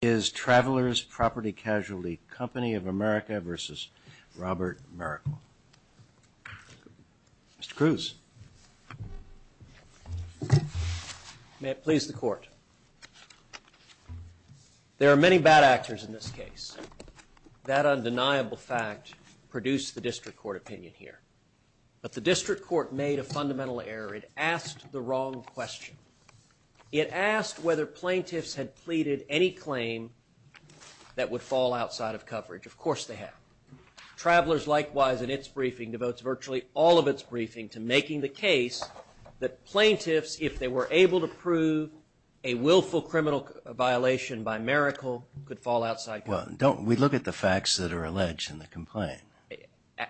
is Travelers Property Casualty Company of America versus Robert Mericle. Mr. Cruz. May it please the court. There are many bad actors in this case. That undeniable fact produced the district court opinion here. But the district court made a fundamental error. It asked the wrong question. It asked whether plaintiffs had pleaded any claim that would fall outside of coverage. Of course they have. Travelers likewise in its briefing devotes virtually all of its briefing to making the case that plaintiffs, if they were able to prove a willful criminal violation by Mericle, could fall outside coverage. Don't we look at the facts that are alleged in the complaint?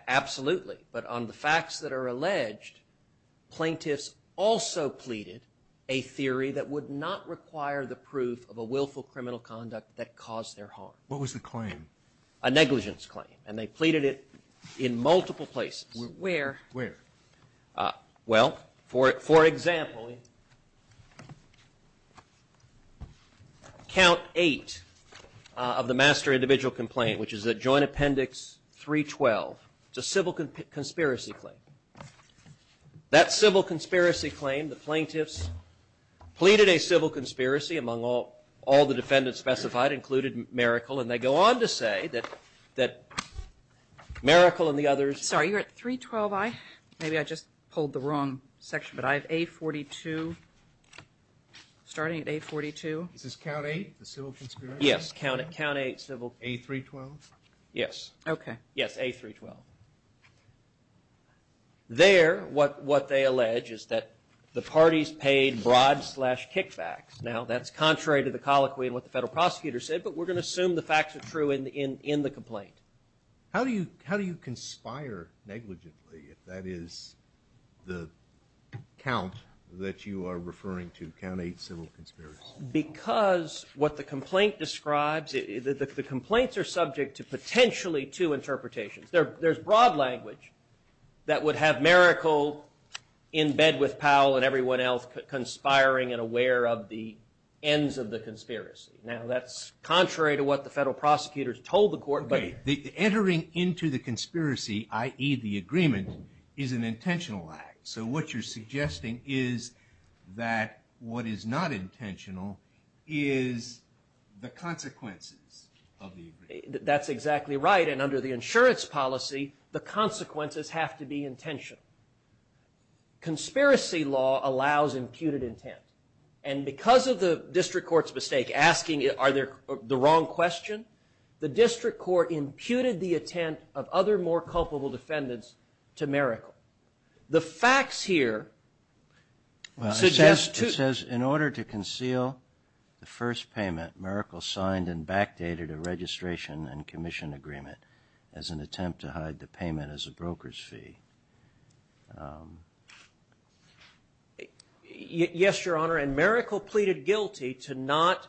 Absolutely. But on the facts that are alleged, plaintiffs also pleaded a theory that would not require the proof of a willful criminal conduct that caused their harm. What was the claim? A negligence claim. And they pleaded it in multiple places. Where? Where? Well, for example, count eight of the master individual complaint, which is at joint appendix 312. It's a civil conspiracy claim. That civil conspiracy claim, the plaintiffs pleaded a civil conspiracy among all the defendants specified, included Mericle, and they go on to say that Mericle and the others... Sorry, you're at 312i? Maybe I just pulled the wrong section, but I have A42, starting at A42. Is this count eight, the civil conspiracy? Yes, count eight civil... A312? Yes. Okay. Yes, A312. There, what they allege is that the parties paid bribes slash kickbacks. Now, that's contrary to the colloquy and what the federal prosecutor said, but we're going to assume the facts are true in the complaint. How do you conspire negligently if that is the count that you are referring to, count eight civil conspiracy? Because what the complaint describes, the complaints are subject to potentially two interpretations. There's broad language that would have Mericle in bed with Powell and everyone else, conspiring and aware of the ends of the conspiracy. Now, that's contrary to what the federal prosecutors told the court, but... Okay, the entering into the conspiracy, i.e. the agreement, is an intentional act. So, what you're suggesting is that what is not intentional is the consequences of the agreement. That's exactly right, and under the insurance policy, the consequences have to be intentional. Conspiracy law allows imputed intent, and because of the district court's mistake asking, are there the wrong question, the district court imputed the intent of other more culpable defendants to Mericle. The facts here suggest... It says, in order to conceal the first payment, Mericle signed and backdated a registration and commission agreement as an attempt to hide the payment as a broker's fee. Yes, Your Honor, and Mericle pleaded guilty to not...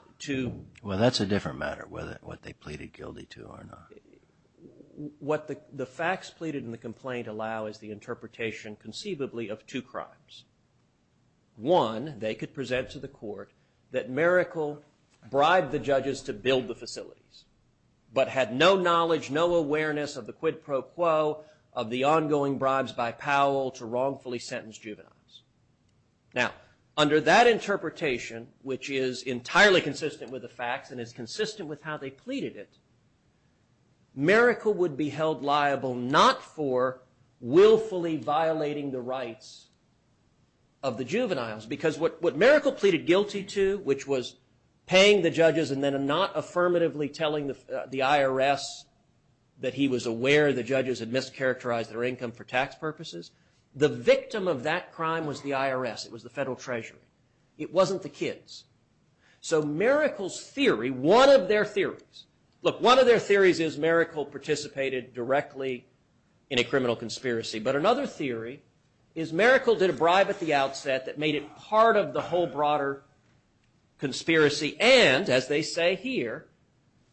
Well, that's a different matter, whether what they pleaded guilty to or not. What the facts pleaded in the complaint allow is the interpretation, conceivably, of two crimes. One, they could present to the court that Mericle bribed the judges to build the facilities, but had no knowledge, no awareness of the quid pro quo of the ongoing bribes by Powell to wrongfully sentenced juveniles. Now, under that interpretation, which is entirely consistent with the facts and is consistent with how they pleaded it, Mericle would be held liable not for willfully violating the rights of the juveniles, because what Mericle pleaded guilty to, which was paying the judges and then not affirmatively telling the IRS that he was aware the judges had mischaracterized their income for tax purposes, the victim of that crime was the IRS. It was the Federal Treasury. It wasn't the kids. So Mericle's theory, one of their theories... Look, one of their theories is Mericle participated directly in a criminal conspiracy, but another theory is Mericle did a bribe at the outset that made it part of the whole broader conspiracy, and, as they say here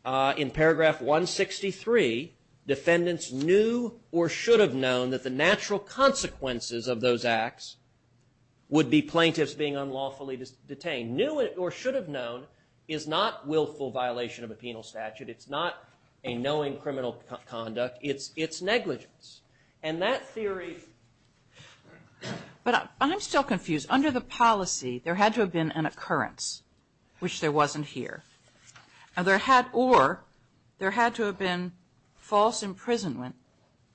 in paragraph 163, defendants knew or should have known that the natural consequences of those acts would be plaintiffs being unlawfully detained. Knew or should have known is not willful violation of a penal statute. It's not a knowing criminal conduct. It's negligence. And that theory... But I'm still confused. Under the policy, there had to have been an occurrence, which there wasn't here. Or there had to have been false imprisonment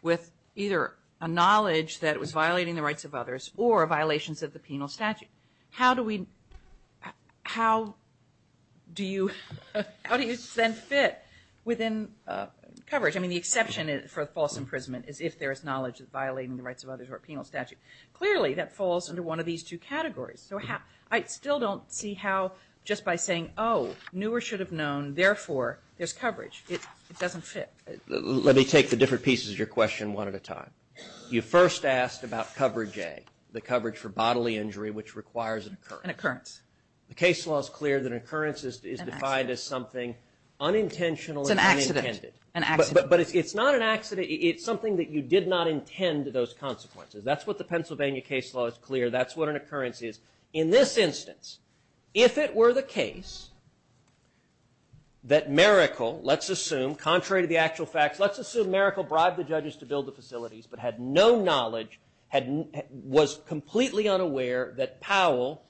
with either a knowledge that it was violating the rights of others or violations of the penal statute. How do we... How do you then fit within coverage? I mean, the exception for false imprisonment is if there is knowledge of violating the rights of others or penal statute. Clearly, that falls under one of these two categories. I still don't see how just by saying, oh, knew or should have known, therefore, there's coverage. It doesn't fit. Let me take the different pieces of your question one at a time. You first asked about coverage A, the coverage for bodily injury, which requires an occurrence. The case law is clear that an occurrence is defined as something unintentional and unintended. But it's not an accident. It's something that you did not intend, those consequences. That's what the Pennsylvania case law is clear. That's what an occurrence is. In this instance, if it were the case that Maracle, let's assume, contrary to the actual facts, let's assume Maracle bribed the judges to build the facilities but had no knowledge, was completely unaware that Powell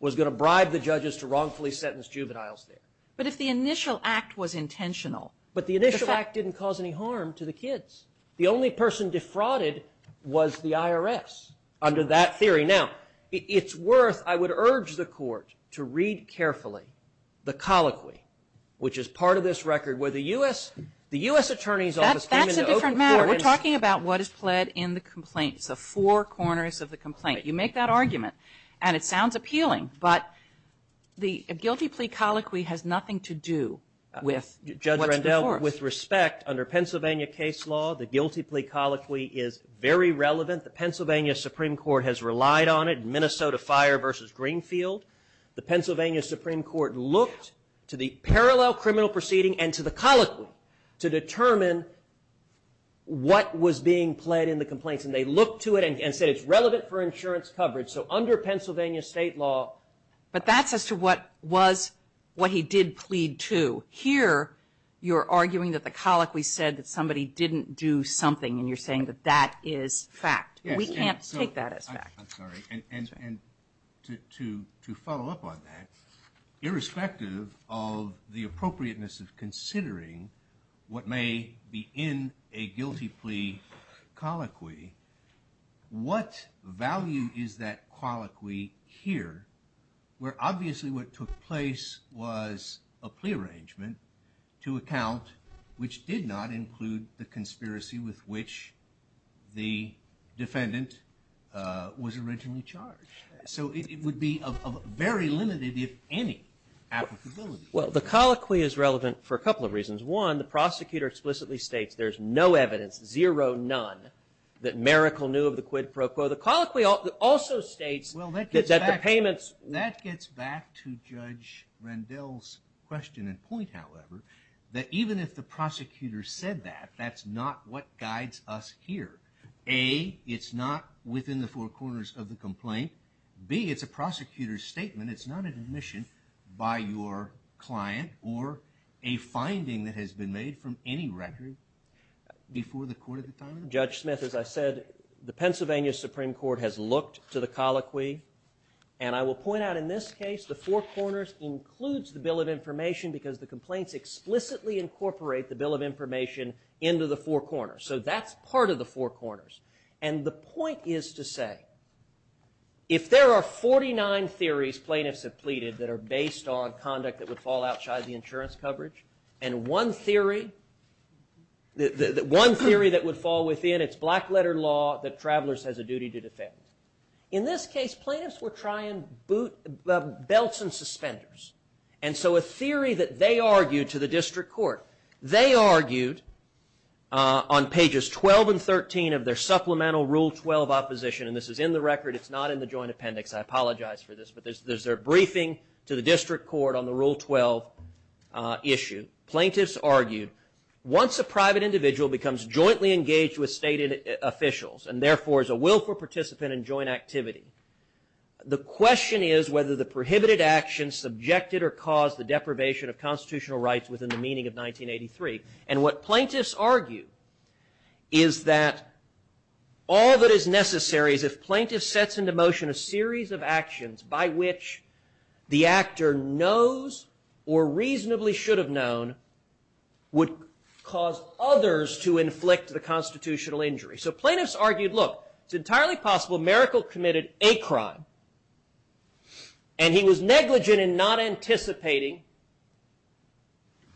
was going to bribe the judges to wrongfully sentence juveniles there. But if the initial act was intentional... But the initial act didn't cause any harm to the kids. The only person defrauded was the IRS under that theory. Now, it's worth, I would urge the court to read carefully the colloquy, which is part of this record where the U.S. Attorney's Office came into open court... That's a different matter. We're talking about what is pled in the complaint. It's the four corners of the complaint. You make that argument, and it sounds appealing. But the guilty plea colloquy has nothing to do with what's in force. Well, with respect, under Pennsylvania case law, the guilty plea colloquy is very relevant. The Pennsylvania Supreme Court has relied on it in Minnesota Fire v. Greenfield. The Pennsylvania Supreme Court looked to the parallel criminal proceeding and to the colloquy to determine what was being pled in the complaints. And they looked to it and said it's relevant for insurance coverage. So under Pennsylvania state law... But that's as to what was what he did plead to. Here, you're arguing that the colloquy said that somebody didn't do something, and you're saying that that is fact. We can't take that as fact. I'm sorry. And to follow up on that, irrespective of the appropriateness of considering what may be in a guilty plea colloquy, what value is that colloquy here, where obviously what took place was a plea arrangement to account which did not include the conspiracy with which the defendant was originally charged. So it would be of very limited, if any, applicability. Well, the colloquy is relevant for a couple of reasons. One, the prosecutor explicitly states there's no evidence, zero, none, that Maracle knew of the quid pro quo. The colloquy also states that the payments... That gets back to Judge Rendell's question and point, however, that even if the prosecutor said that, that's not what guides us here. A, it's not within the four corners of the complaint. B, it's a prosecutor's statement. It's not an admission by your client or a finding that has been made from any record before the court at the time. Judge Smith, as I said, the Pennsylvania Supreme Court has looked to the colloquy. And I will point out in this case, the four corners includes the Bill of Information because the complaints explicitly incorporate the Bill of Information into the four corners. So that's part of the four corners. And the point is to say, if there are 49 theories plaintiffs have pleaded that are based on conduct that would fall outside the insurance coverage, and one theory that would fall within, it's black letter law that travelers has a duty to defend. In this case, plaintiffs were trying belts and suspenders. And so a theory that they argued to the district court, they argued on pages 12 and 13 of their supplemental Rule 12 opposition, and this is in the record, it's not in the joint appendix, I apologize for this, but there's their briefing to the district court on the Rule 12 issue. Plaintiffs argued, once a private individual becomes jointly engaged with state officials, and therefore is a willful participant in joint activity, the question is whether the prohibited action subjected or caused the deprivation of constitutional rights within the meaning of 1983. And what plaintiffs argue is that all that is necessary is if plaintiffs sets into motion a series of actions by which the actor knows or reasonably should have known would cause others to inflict the constitutional injury. So plaintiffs argued, look, it's entirely possible Merkle committed a crime, and he was negligent in not anticipating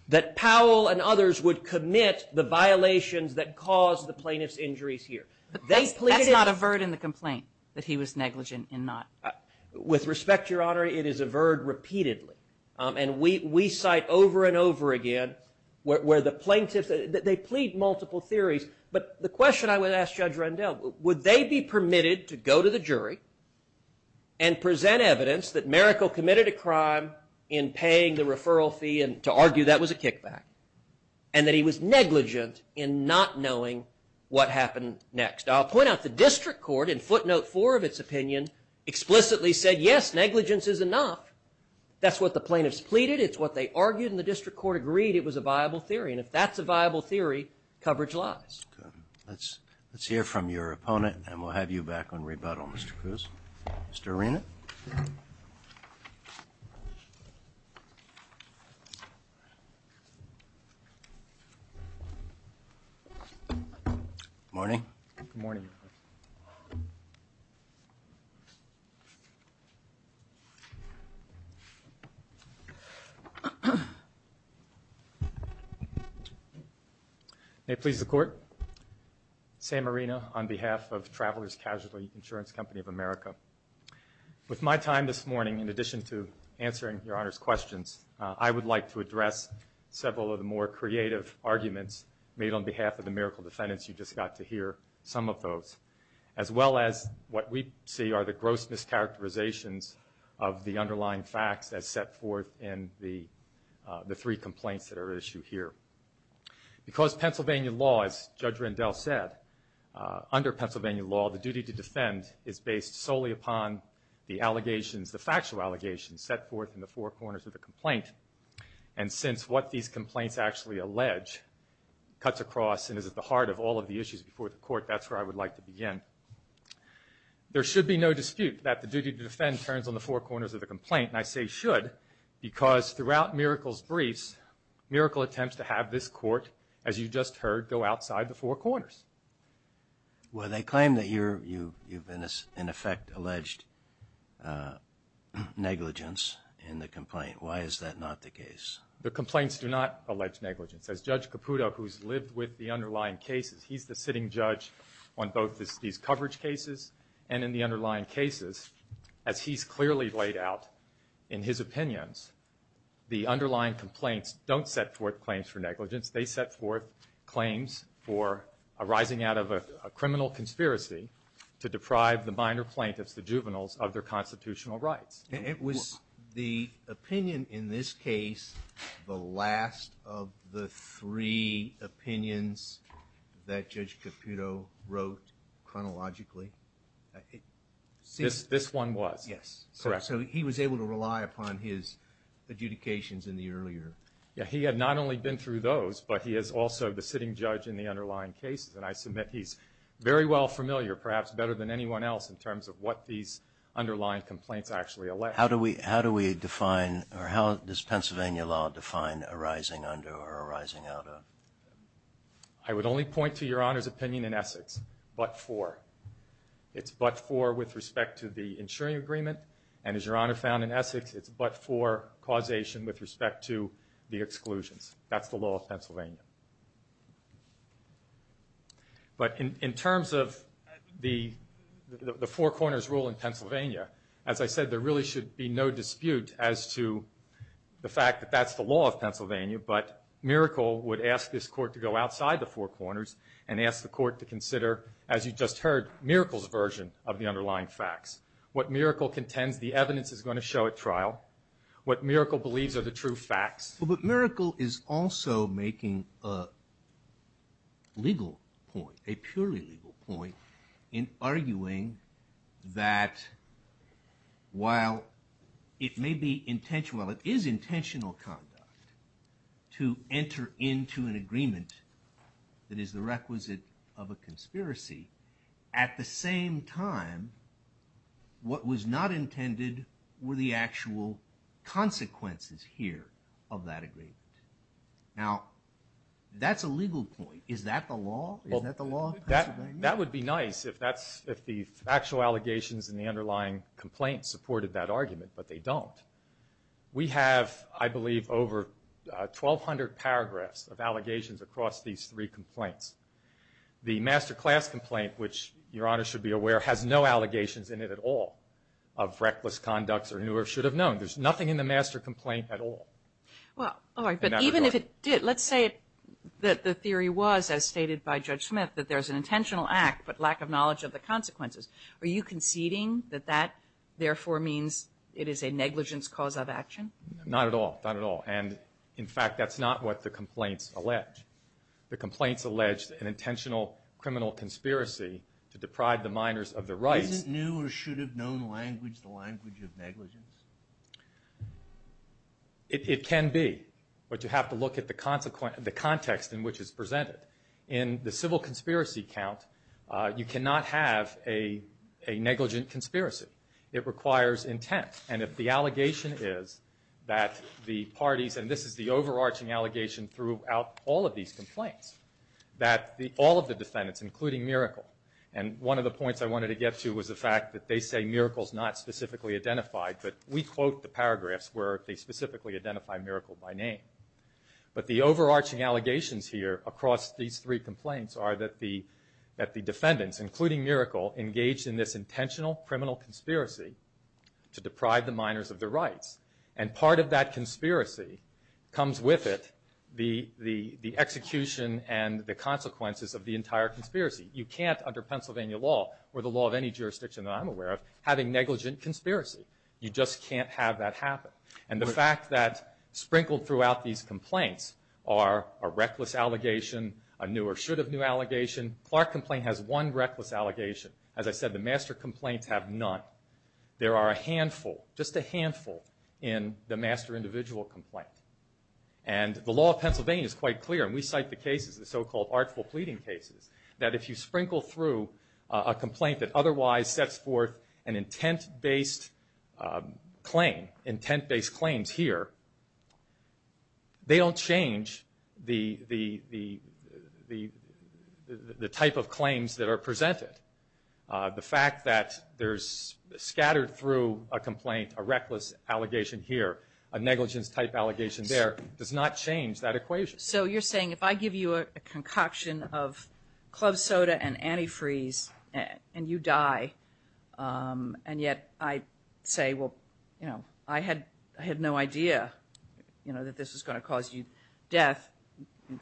that Powell and others would commit the violations that caused the plaintiff's injuries here. But that's not a verd in the complaint, that he was negligent in not. With respect, Your Honor, it is a verd repeatedly. And we cite over and over again where the plaintiffs, they plead multiple theories, but the question I would ask Judge Rendell, would they be permitted to go to the jury and present evidence that Merkle committed a crime in paying the referral fee, and to argue that was a kickback, and that he was negligent in not knowing what happened next? I'll point out the district court in footnote four of its opinion explicitly said, yes, negligence is enough. That's what the plaintiffs pleaded, it's what they argued, and the district court agreed it was a viable theory. And if that's a viable theory, coverage lies. Let's hear from your opponent, and we'll have you back on rebuttal, Mr. Cruz. Mr. Arena? Good morning. Good morning. May it please the court, Sam Arena on behalf of Travelers Casualty Insurance Company of America. With my time this morning, in addition to answering Your Honor's questions, I would like to address several of the more creative arguments made on behalf of the Merkle defendants. You just got to hear some of those, as well as what we see are the gross mischaracterizations of the underlying facts as set forth in the three complaints that are at issue here. Because Pennsylvania law, as Judge Rendell said, under Pennsylvania law, the duty to defend is based solely upon the allegations, the factual allegations, that have been set forth in the four corners of the complaint. And since what these complaints actually allege cuts across and is at the heart of all of the issues before the court, that's where I would like to begin. There should be no dispute that the duty to defend turns on the four corners of the complaint, and I say should because throughout Merkle's briefs, Merkle attempts to have this court, as you just heard, go outside the four corners. Well, they claim that you've, in effect, alleged negligence in the complaint. Why is that not the case? The complaints do not allege negligence. As Judge Caputo, who's lived with the underlying cases, he's the sitting judge on both these coverage cases and in the underlying cases. As he's clearly laid out in his opinions, the underlying complaints don't set forth claims for negligence. They set forth claims for arising out of a criminal conspiracy to deprive the minor plaintiffs, the juveniles, of their constitutional rights. It was the opinion in this case, the last of the three opinions that Judge Caputo wrote chronologically. This one was? Yes. Correct. So he was able to rely upon his adjudications in the earlier. Yes, he had not only been through those, but he is also the sitting judge in the underlying cases, and I submit he's very well familiar, perhaps better than anyone else, in terms of what these underlying complaints actually allege. How do we define, or how does Pennsylvania law define arising under or arising out of? I would only point to Your Honor's opinion in Essex, but for. It's but for with respect to the insuring agreement, and as Your Honor found in Essex, it's but for causation with respect to the exclusions. That's the law of Pennsylvania. But in terms of the Four Corners rule in Pennsylvania, as I said there really should be no dispute as to the fact that that's the law of Pennsylvania, but Miracle would ask this Court to go outside the Four Corners and ask the Court to consider, as you just heard, Miracle's version of the underlying facts. What Miracle contends the evidence is going to show at trial. What Miracle believes are the true facts. But Miracle is also making a legal point, a purely legal point, in arguing that while it may be intentional, it is intentional conduct to enter into an agreement that is the requisite of a conspiracy, at the same time, what was not intended were the actual consequences here of that agreement. Now, that's a legal point. Is that the law? Is that the law of Pennsylvania? That would be nice if the factual allegations and the underlying complaints supported that argument, but they don't. We have, I believe, over 1,200 paragraphs of allegations across these three complaints. The master class complaint, which Your Honor should be aware, has no allegations in it at all of reckless conducts or anyone should have known. There's nothing in the master complaint at all. Well, all right. But even if it did, let's say that the theory was, as stated by Judge Smith, that there's an intentional act, but lack of knowledge of the consequences. Are you conceding that that, therefore, means it is a negligence cause of action? Not at all. Not at all. And, in fact, that's not what the complaints allege. The complaints allege an intentional criminal conspiracy to deprive the minors of their rights. Isn't new or should have known language the language of negligence? It can be, but you have to look at the context in which it's presented. In the civil conspiracy count, you cannot have a negligent conspiracy. It requires intent. And if the allegation is that the parties, and this is the overarching allegation throughout all of these complaints, that all of the defendants, including Miracle, and one of the points I wanted to get to was the fact that they say Miracle's not specifically identified, but we quote the paragraphs where they specifically identify Miracle by name. But the overarching allegations here across these three complaints are that the defendants, including Miracle, engaged in this intentional criminal conspiracy to deprive the minors of their rights. And part of that conspiracy comes with it, the execution and the consequences of the entire conspiracy. You can't, under Pennsylvania law, or the law of any jurisdiction that I'm aware of, having negligent conspiracy. You just can't have that happen. And the fact that sprinkled throughout these complaints are a reckless allegation, a new or should have new allegation. Clark complaint has one reckless allegation. As I said, the master complaints have none. There are a handful, just a handful, in the master individual complaint. And the law of Pennsylvania is quite clear, and we cite the cases, the so-called artful pleading cases, that if you sprinkle through a complaint that otherwise sets forth an intent-based claim, intent-based claims here, they don't change the type of claims that are presented. The fact that there's scattered through a complaint a reckless allegation here, a negligence-type allegation there, does not change that equation. So you're saying if I give you a concoction of club soda and antifreeze and you die, and yet I say, well, you know, I had no idea, you know, that this was going to cause you death,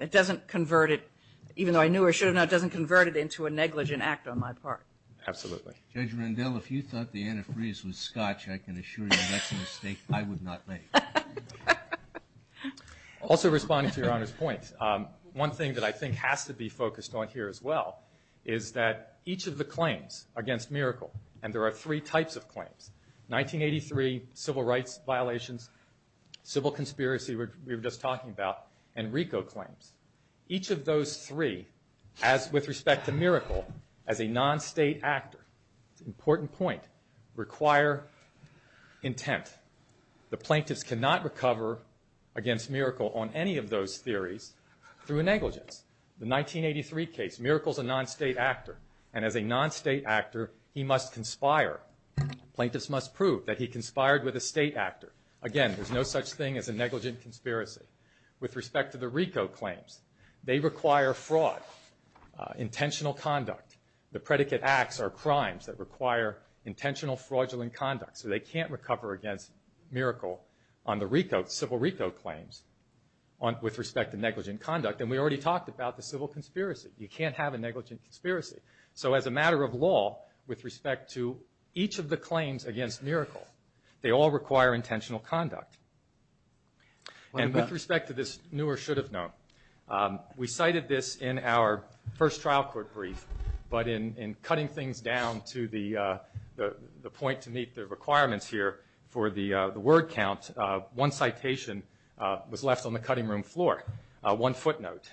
it doesn't convert it, even though I knew or should have known, it doesn't convert it into a negligent act on my part. Absolutely. Judge Rendell, if you thought the antifreeze was scotch, I can assure you that's a mistake I would not make. Also responding to Your Honor's point, one thing that I think has to be focused on here as well is that each of the claims against Miracle, and there are three types of claims, 1983, civil rights violations, civil conspiracy, which we were just talking about, and RICO claims, each of those three, as with respect to Miracle, as a non-state actor, important point, require intent. The plaintiffs cannot recover against Miracle on any of those theories through a negligence. The 1983 case, Miracle's a non-state actor, and as a non-state actor, he must conspire. Plaintiffs must prove that he conspired with a state actor. Again, there's no such thing as a negligent conspiracy. With respect to the RICO claims, they require fraud, intentional conduct. The predicate acts are crimes that require intentional, fraudulent conduct, so they can't recover against Miracle on the RICO, civil RICO claims with respect to negligent conduct. And we already talked about the civil conspiracy. You can't have a negligent conspiracy. So as a matter of law, with respect to each of the claims against Miracle, they all require intentional conduct. And with respect to this new or should have known, we cited this in our first trial court brief, but in cutting things down to the point to meet the requirements here for the word count, one citation was left on the cutting room floor, one footnote.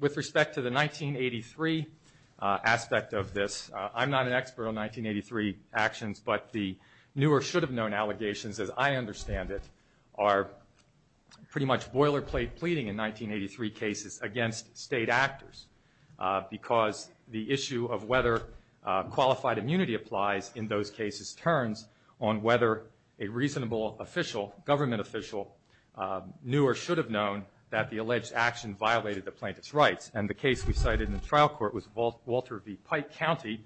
With respect to the 1983 aspect of this, I'm not an expert on 1983 actions, but the new or should have known allegations, as I understand it, are pretty much boilerplate pleading in 1983 cases against state actors because the issue of whether qualified immunity applies in those cases turns on whether a reasonable official, government official, knew or should have known that the alleged action violated the plaintiff's rights. And the case we cited in the trial court was Walter v. Pike County,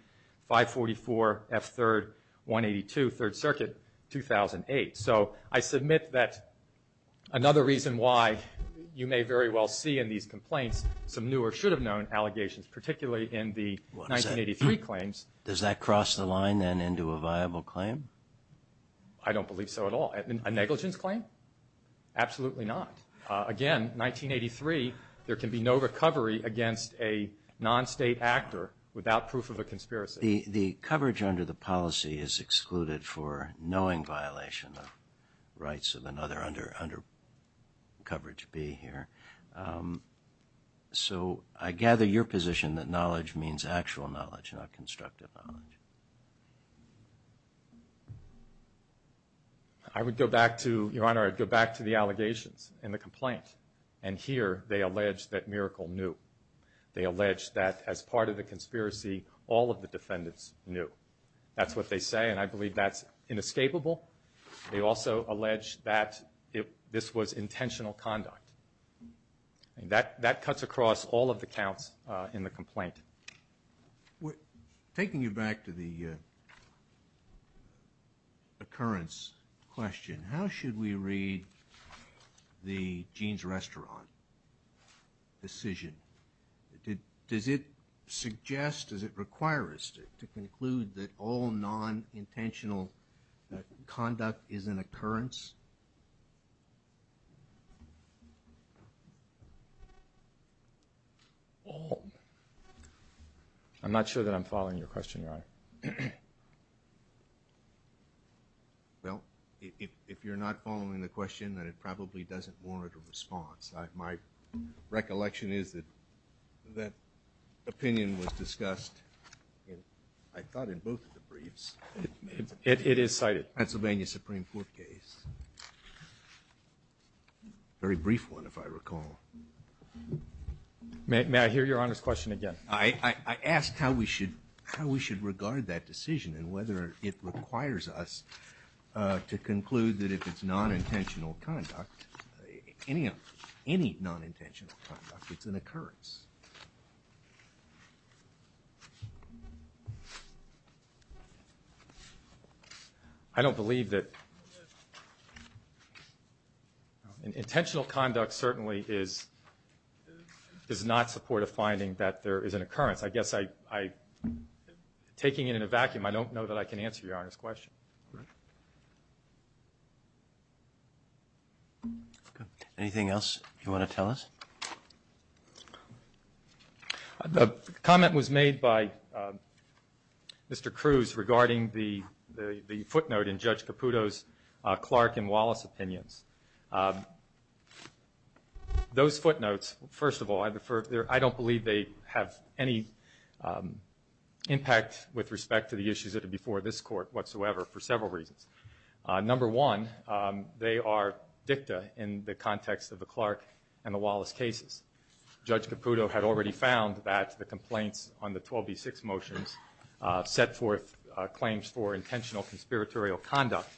544F3-182, 3rd Circuit, 2008. So I submit that another reason why you may very well see in these complaints some new or should have known allegations, particularly in the 1983 claims. What is that? Does that cross the line then into a viable claim? I don't believe so at all. A negligence claim? Absolutely not. Again, 1983, there can be no recovery against a non-state actor without proof of a conspiracy. The coverage under the policy is excluded for knowing violation of rights of another under coverage B here. So I gather your position that knowledge means actual knowledge, not constructive knowledge. I would go back to, Your Honor, I'd go back to the allegations in the complaint. And here they allege that Miracle knew. They allege that as part of the conspiracy, all of the defendants knew. That's what they say, and I believe that's inescapable. They also allege that this was intentional conduct. That cuts across all of the counts in the complaint. Taking you back to the occurrence question, how should we read the Jean's Restaurant decision? Does it suggest, does it require us to conclude that all non-intentional conduct is an occurrence? I'm not sure that I'm following your question, Your Honor. Well, if you're not following the question, then it probably doesn't warrant a response. My recollection is that that opinion was discussed, I thought, in both of the briefs. It is cited. Pennsylvania Supreme Court case. Very brief one, if I recall. May I hear Your Honor's question again? I asked how we should regard that decision and whether it requires us to conclude that if it's non-intentional conduct, any non-intentional conduct, it's an occurrence. I don't believe that intentional conduct certainly is not supportive finding that there is an occurrence. I guess I, taking it in a vacuum, I don't know that I can answer Your Honor's question. Anything else you want to tell us? The comment was made by Mr. Cruz regarding the footnote in Judge Caputo's Clark and Wallace opinions. Those footnotes, first of all, I don't believe they have any impact with respect to the issues that are before this court whatsoever for several reasons. Number one, they are dicta in the context of the Clark and the Wallace cases. Judge Caputo had already found that the complaints on the 12B6 motions set forth claims for intentional conspiratorial conduct.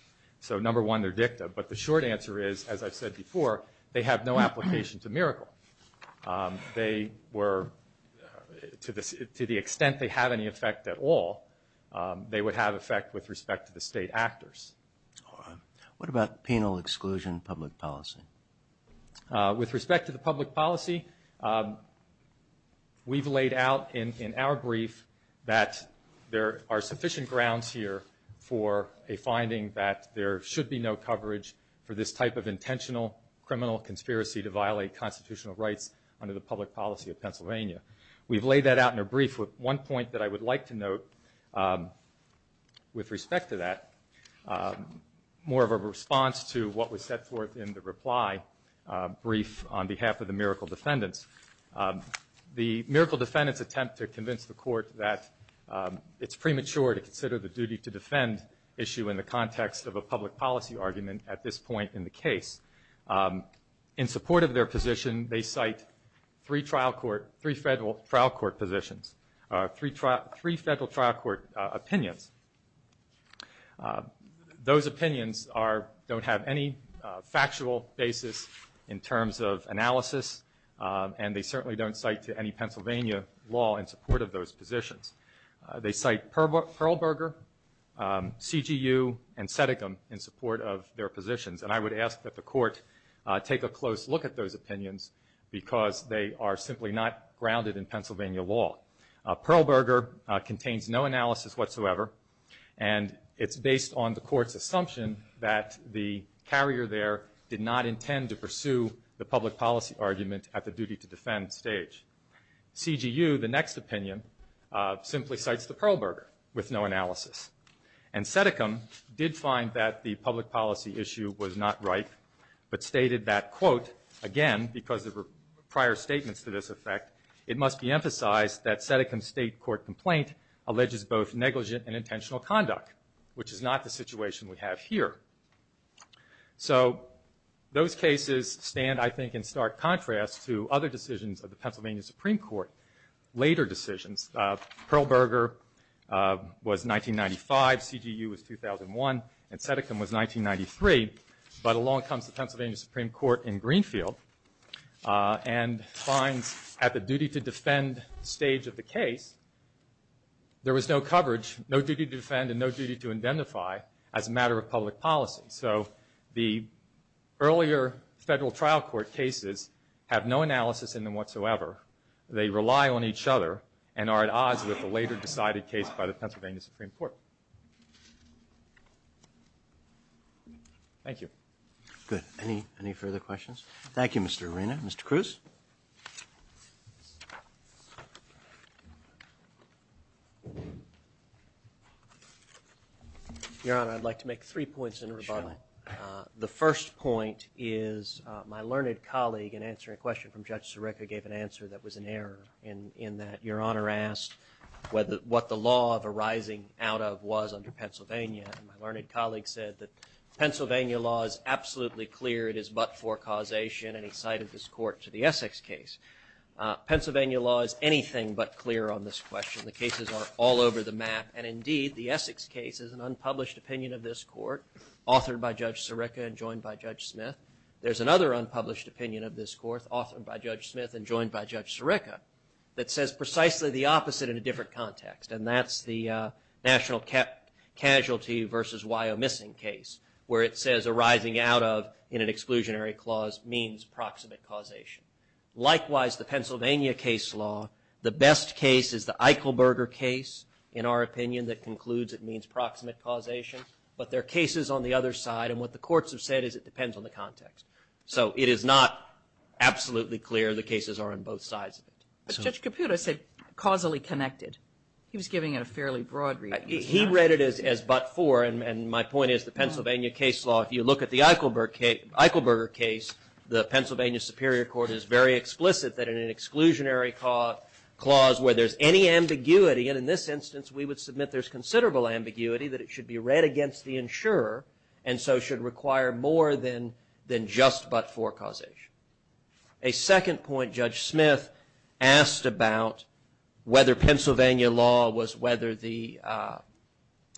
So number one, they're dicta. But the short answer is, as I've said before, they have no application to Miracle. They were, to the extent they have any effect at all, they would have effect with respect to the state actors. All right. What about penal exclusion public policy? With respect to the public policy, we've laid out in our brief that there are sufficient grounds here for a finding that there should be no coverage for this type of intentional criminal conspiracy to violate constitutional rights under the public policy of Pennsylvania. We've laid that out in a brief with one point that I would like to note with respect to that, more of a response to what was set forth in the reply brief on behalf of the Miracle defendants. The Miracle defendants attempt to convince the court that it's premature to consider the duty to defend issue in the context of a public policy argument at this point in the case. In support of their position, they cite three federal trial court positions, three federal trial court opinions. Those opinions don't have any factual basis in terms of analysis, and they certainly don't cite to any Pennsylvania law in support of those positions. They cite Perlberger, CGU, and Seticum in support of their positions, and I would ask that the court take a close look at those opinions because they are simply not grounded in Pennsylvania law. Perlberger contains no analysis whatsoever, and it's based on the court's assumption that the carrier there did not intend to pursue the public policy argument at the duty to defend stage. CGU, the next opinion, simply cites the Perlberger with no analysis. And Seticum did find that the public policy issue was not right, but stated that, quote, again, because there were prior statements to this effect, it must be emphasized that Seticum's state court complaint alleges both negligent and intentional conduct, which is not the situation we have here. So those cases stand, I think, in stark contrast to other decisions of the Pennsylvania Supreme Court, later decisions. Perlberger was 1995, CGU was 2001, and Seticum was 1993, but along comes the Pennsylvania Supreme Court in Greenfield and finds at the duty to defend stage of the case, there was no coverage, no duty to defend and no duty to identify as a matter of public policy. So the earlier federal trial court cases have no analysis in them whatsoever. They rely on each other and are at odds with the later decided case by the Pennsylvania Supreme Court. Thank you. Good. Any further questions? Thank you, Mr. Arena. Mr. Cruz? Your Honor, I'd like to make three points in rebuttal. Sure. The first point is my learned colleague, in answering a question from Judge Sirica, gave an answer that was an error in that Your Honor asked what the law of arising out of was under Pennsylvania, and my learned colleague said that Pennsylvania law is absolutely clear. It is but for causation, and he cited this court to the Essex case. Pennsylvania law is anything but clear on this question. The cases are all over the map, and indeed, the Essex case is an unpublished opinion of this court, authored by Judge Sirica and joined by Judge Smith. There's another unpublished opinion of this court, authored by Judge Smith and joined by Judge Sirica, that says precisely the opposite in a different context, and that's the national casualty versus WYO missing case, where it says arising out of in an exclusionary clause means proximate causation. Likewise, the Pennsylvania case law, the best case is the Eichelberger case, in our opinion, that concludes it means proximate causation, but there are cases on the other side, and what the courts have said is it depends on the context. So it is not absolutely clear. The cases are on both sides of it. But Judge Caputo said causally connected. He was giving it a fairly broad reading. He read it as but for, and my point is the Pennsylvania case law, if you look at the Eichelberger case, the Pennsylvania Superior Court is very explicit that in an exclusionary clause where there's any ambiguity, and in this instance we would submit there's considerable ambiguity, that it should be read against the insurer and so should require more than just but for causation. A second point Judge Smith asked about whether Pennsylvania law was whether the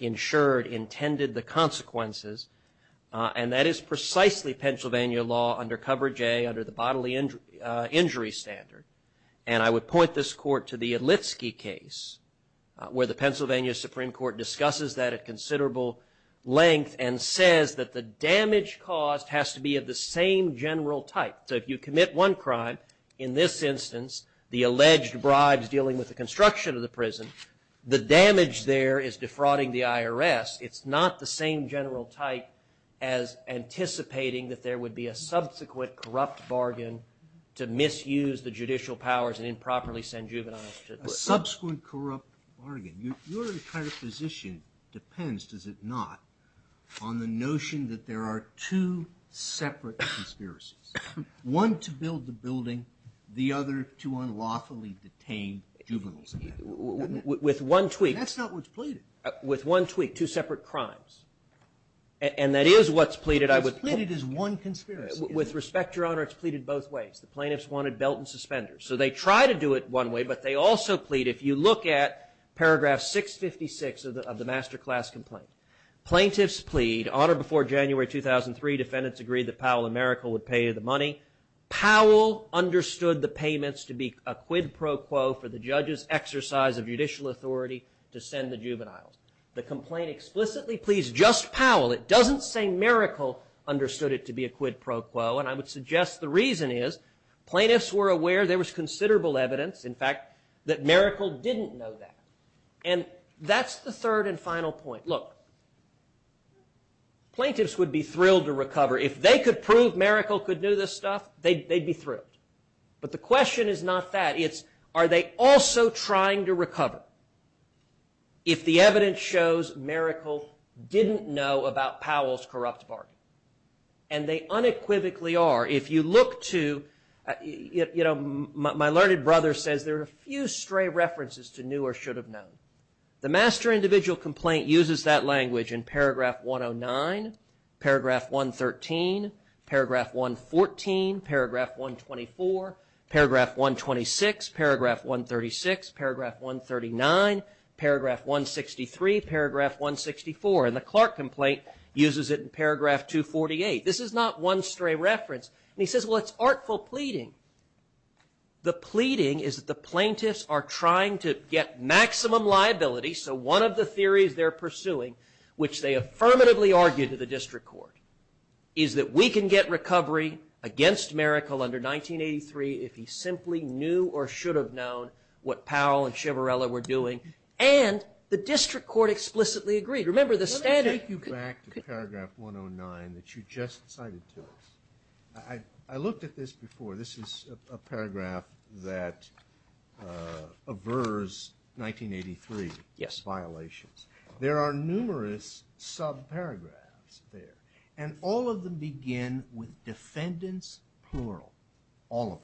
insured intended the consequences, and that is precisely Pennsylvania law under coverage A, under the bodily injury standard, and I would point this court to the Illitsky case where the Pennsylvania Supreme Court discusses that at considerable length and says that the damage caused has to be of the same general type. So if you commit one crime, in this instance, the alleged bribes dealing with the construction of the prison, the damage there is defrauding the IRS. It's not the same general type as anticipating that there would be a subsequent corrupt bargain to misuse the judicial powers and improperly send juveniles to prison. A subsequent corrupt bargain. Your entire position depends, does it not, on the notion that there are two separate conspiracies, one to build the building, the other to unlawfully detain juveniles. With one tweak. That's not what's pleaded. With one tweak, two separate crimes, and that is what's pleaded. What's pleaded is one conspiracy. With respect, Your Honor, it's pleaded both ways. The plaintiffs wanted belt and suspenders, so they try to do it one way, but they also plead, if you look at paragraph 656 of the master class complaint, plaintiffs plead, on or before January 2003, defendants agreed that Powell and Maracle would pay the money. Powell understood the payments to be a quid pro quo for the judge's exercise of judicial authority to send the juveniles. The complaint explicitly pleads just Powell. It doesn't say Maracle understood it to be a quid pro quo, and I would suggest the reason is plaintiffs were aware there was considerable evidence, in fact, that Maracle didn't know that. And that's the third and final point. Look, plaintiffs would be thrilled to recover. If they could prove Maracle could do this stuff, they'd be thrilled. But the question is not that. It's are they also trying to recover if the evidence shows Maracle didn't know about Powell's corrupt bargain? And they unequivocally are. If you look to, you know, my learned brother says there are a few stray references to knew or should have known. The master individual complaint uses that language in paragraph 109, paragraph 113, paragraph 114, paragraph 124, paragraph 126, paragraph 136, paragraph 139, paragraph 163, paragraph 164. And the Clark complaint uses it in paragraph 248. This is not one stray reference. And he says, well, it's artful pleading. The pleading is that the plaintiffs are trying to get maximum liability. So one of the theories they're pursuing, which they affirmatively argue to the district court, is that we can get recovery against Maracle under 1983 if he simply knew or should have known what Powell and Chivarella were doing. And the district court explicitly agreed. Remember the standard. Let me take you back to paragraph 109 that you just cited to us. I looked at this before. This is a paragraph that avers 1983 violations. There are numerous subparagraphs there. And all of them begin with defendants plural. All of them.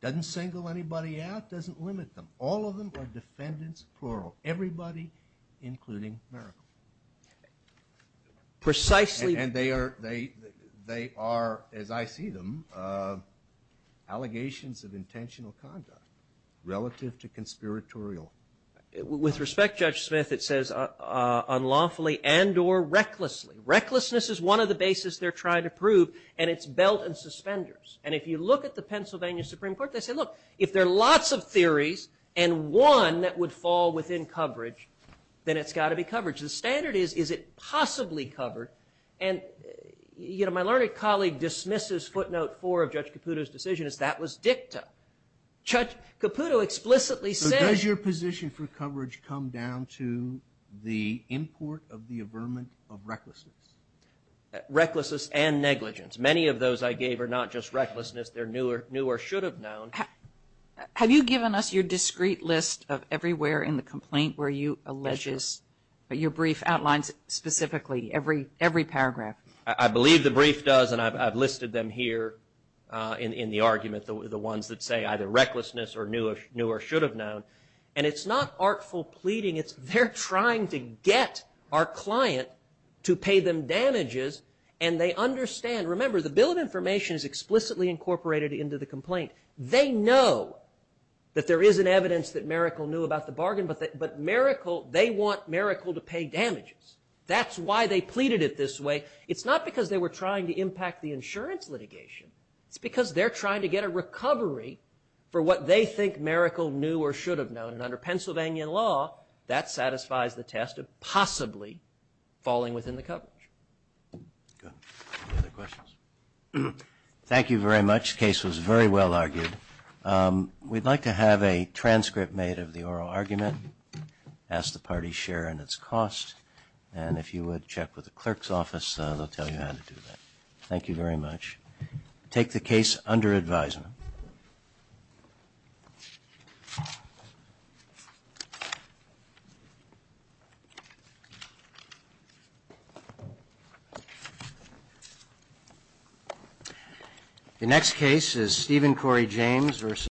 Doesn't single anybody out. Doesn't limit them. All of them are defendants plural. Everybody including Maracle. Precisely. And they are, as I see them, allegations of intentional conduct relative to conspiratorial. With respect, Judge Smith, it says unlawfully and or recklessly. Recklessness is one of the bases they're trying to prove. And it's belt and suspenders. And if you look at the Pennsylvania Supreme Court, they say, look, if there are lots of theories and one that would fall within coverage, then it's got to be coverage. The standard is, is it possibly covered? And, you know, my learned colleague dismisses footnote four of Judge Caputo's decision. That was dicta. Judge Caputo explicitly said. So does your position for coverage come down to the import of the averment of recklessness? Recklessness and negligence. Many of those I gave are not just recklessness. They're new or should have known. Have you given us your discrete list of everywhere in the complaint where you allege that your brief outlines specifically every paragraph? I believe the brief does, and I've listed them here in the argument, the ones that say either recklessness or new or should have known. And it's not artful pleading. It's they're trying to get our client to pay them damages, and they understand. Remember, the bill of information is explicitly incorporated into the complaint. They know that there is an evidence that Maracle knew about the bargain, but Maracle, they want Maracle to pay damages. That's why they pleaded it this way. It's not because they were trying to impact the insurance litigation. It's because they're trying to get a recovery for what they think Maracle knew or should have known, and under Pennsylvania law, that satisfies the test of possibly falling within the coverage. Good. Any other questions? Thank you very much. The case was very well argued. We'd like to have a transcript made of the oral argument, ask the party's share in its cost, and if you would check with the clerk's office, they'll tell you how to do that. Thank you very much. Take the case under advisement. Thank you.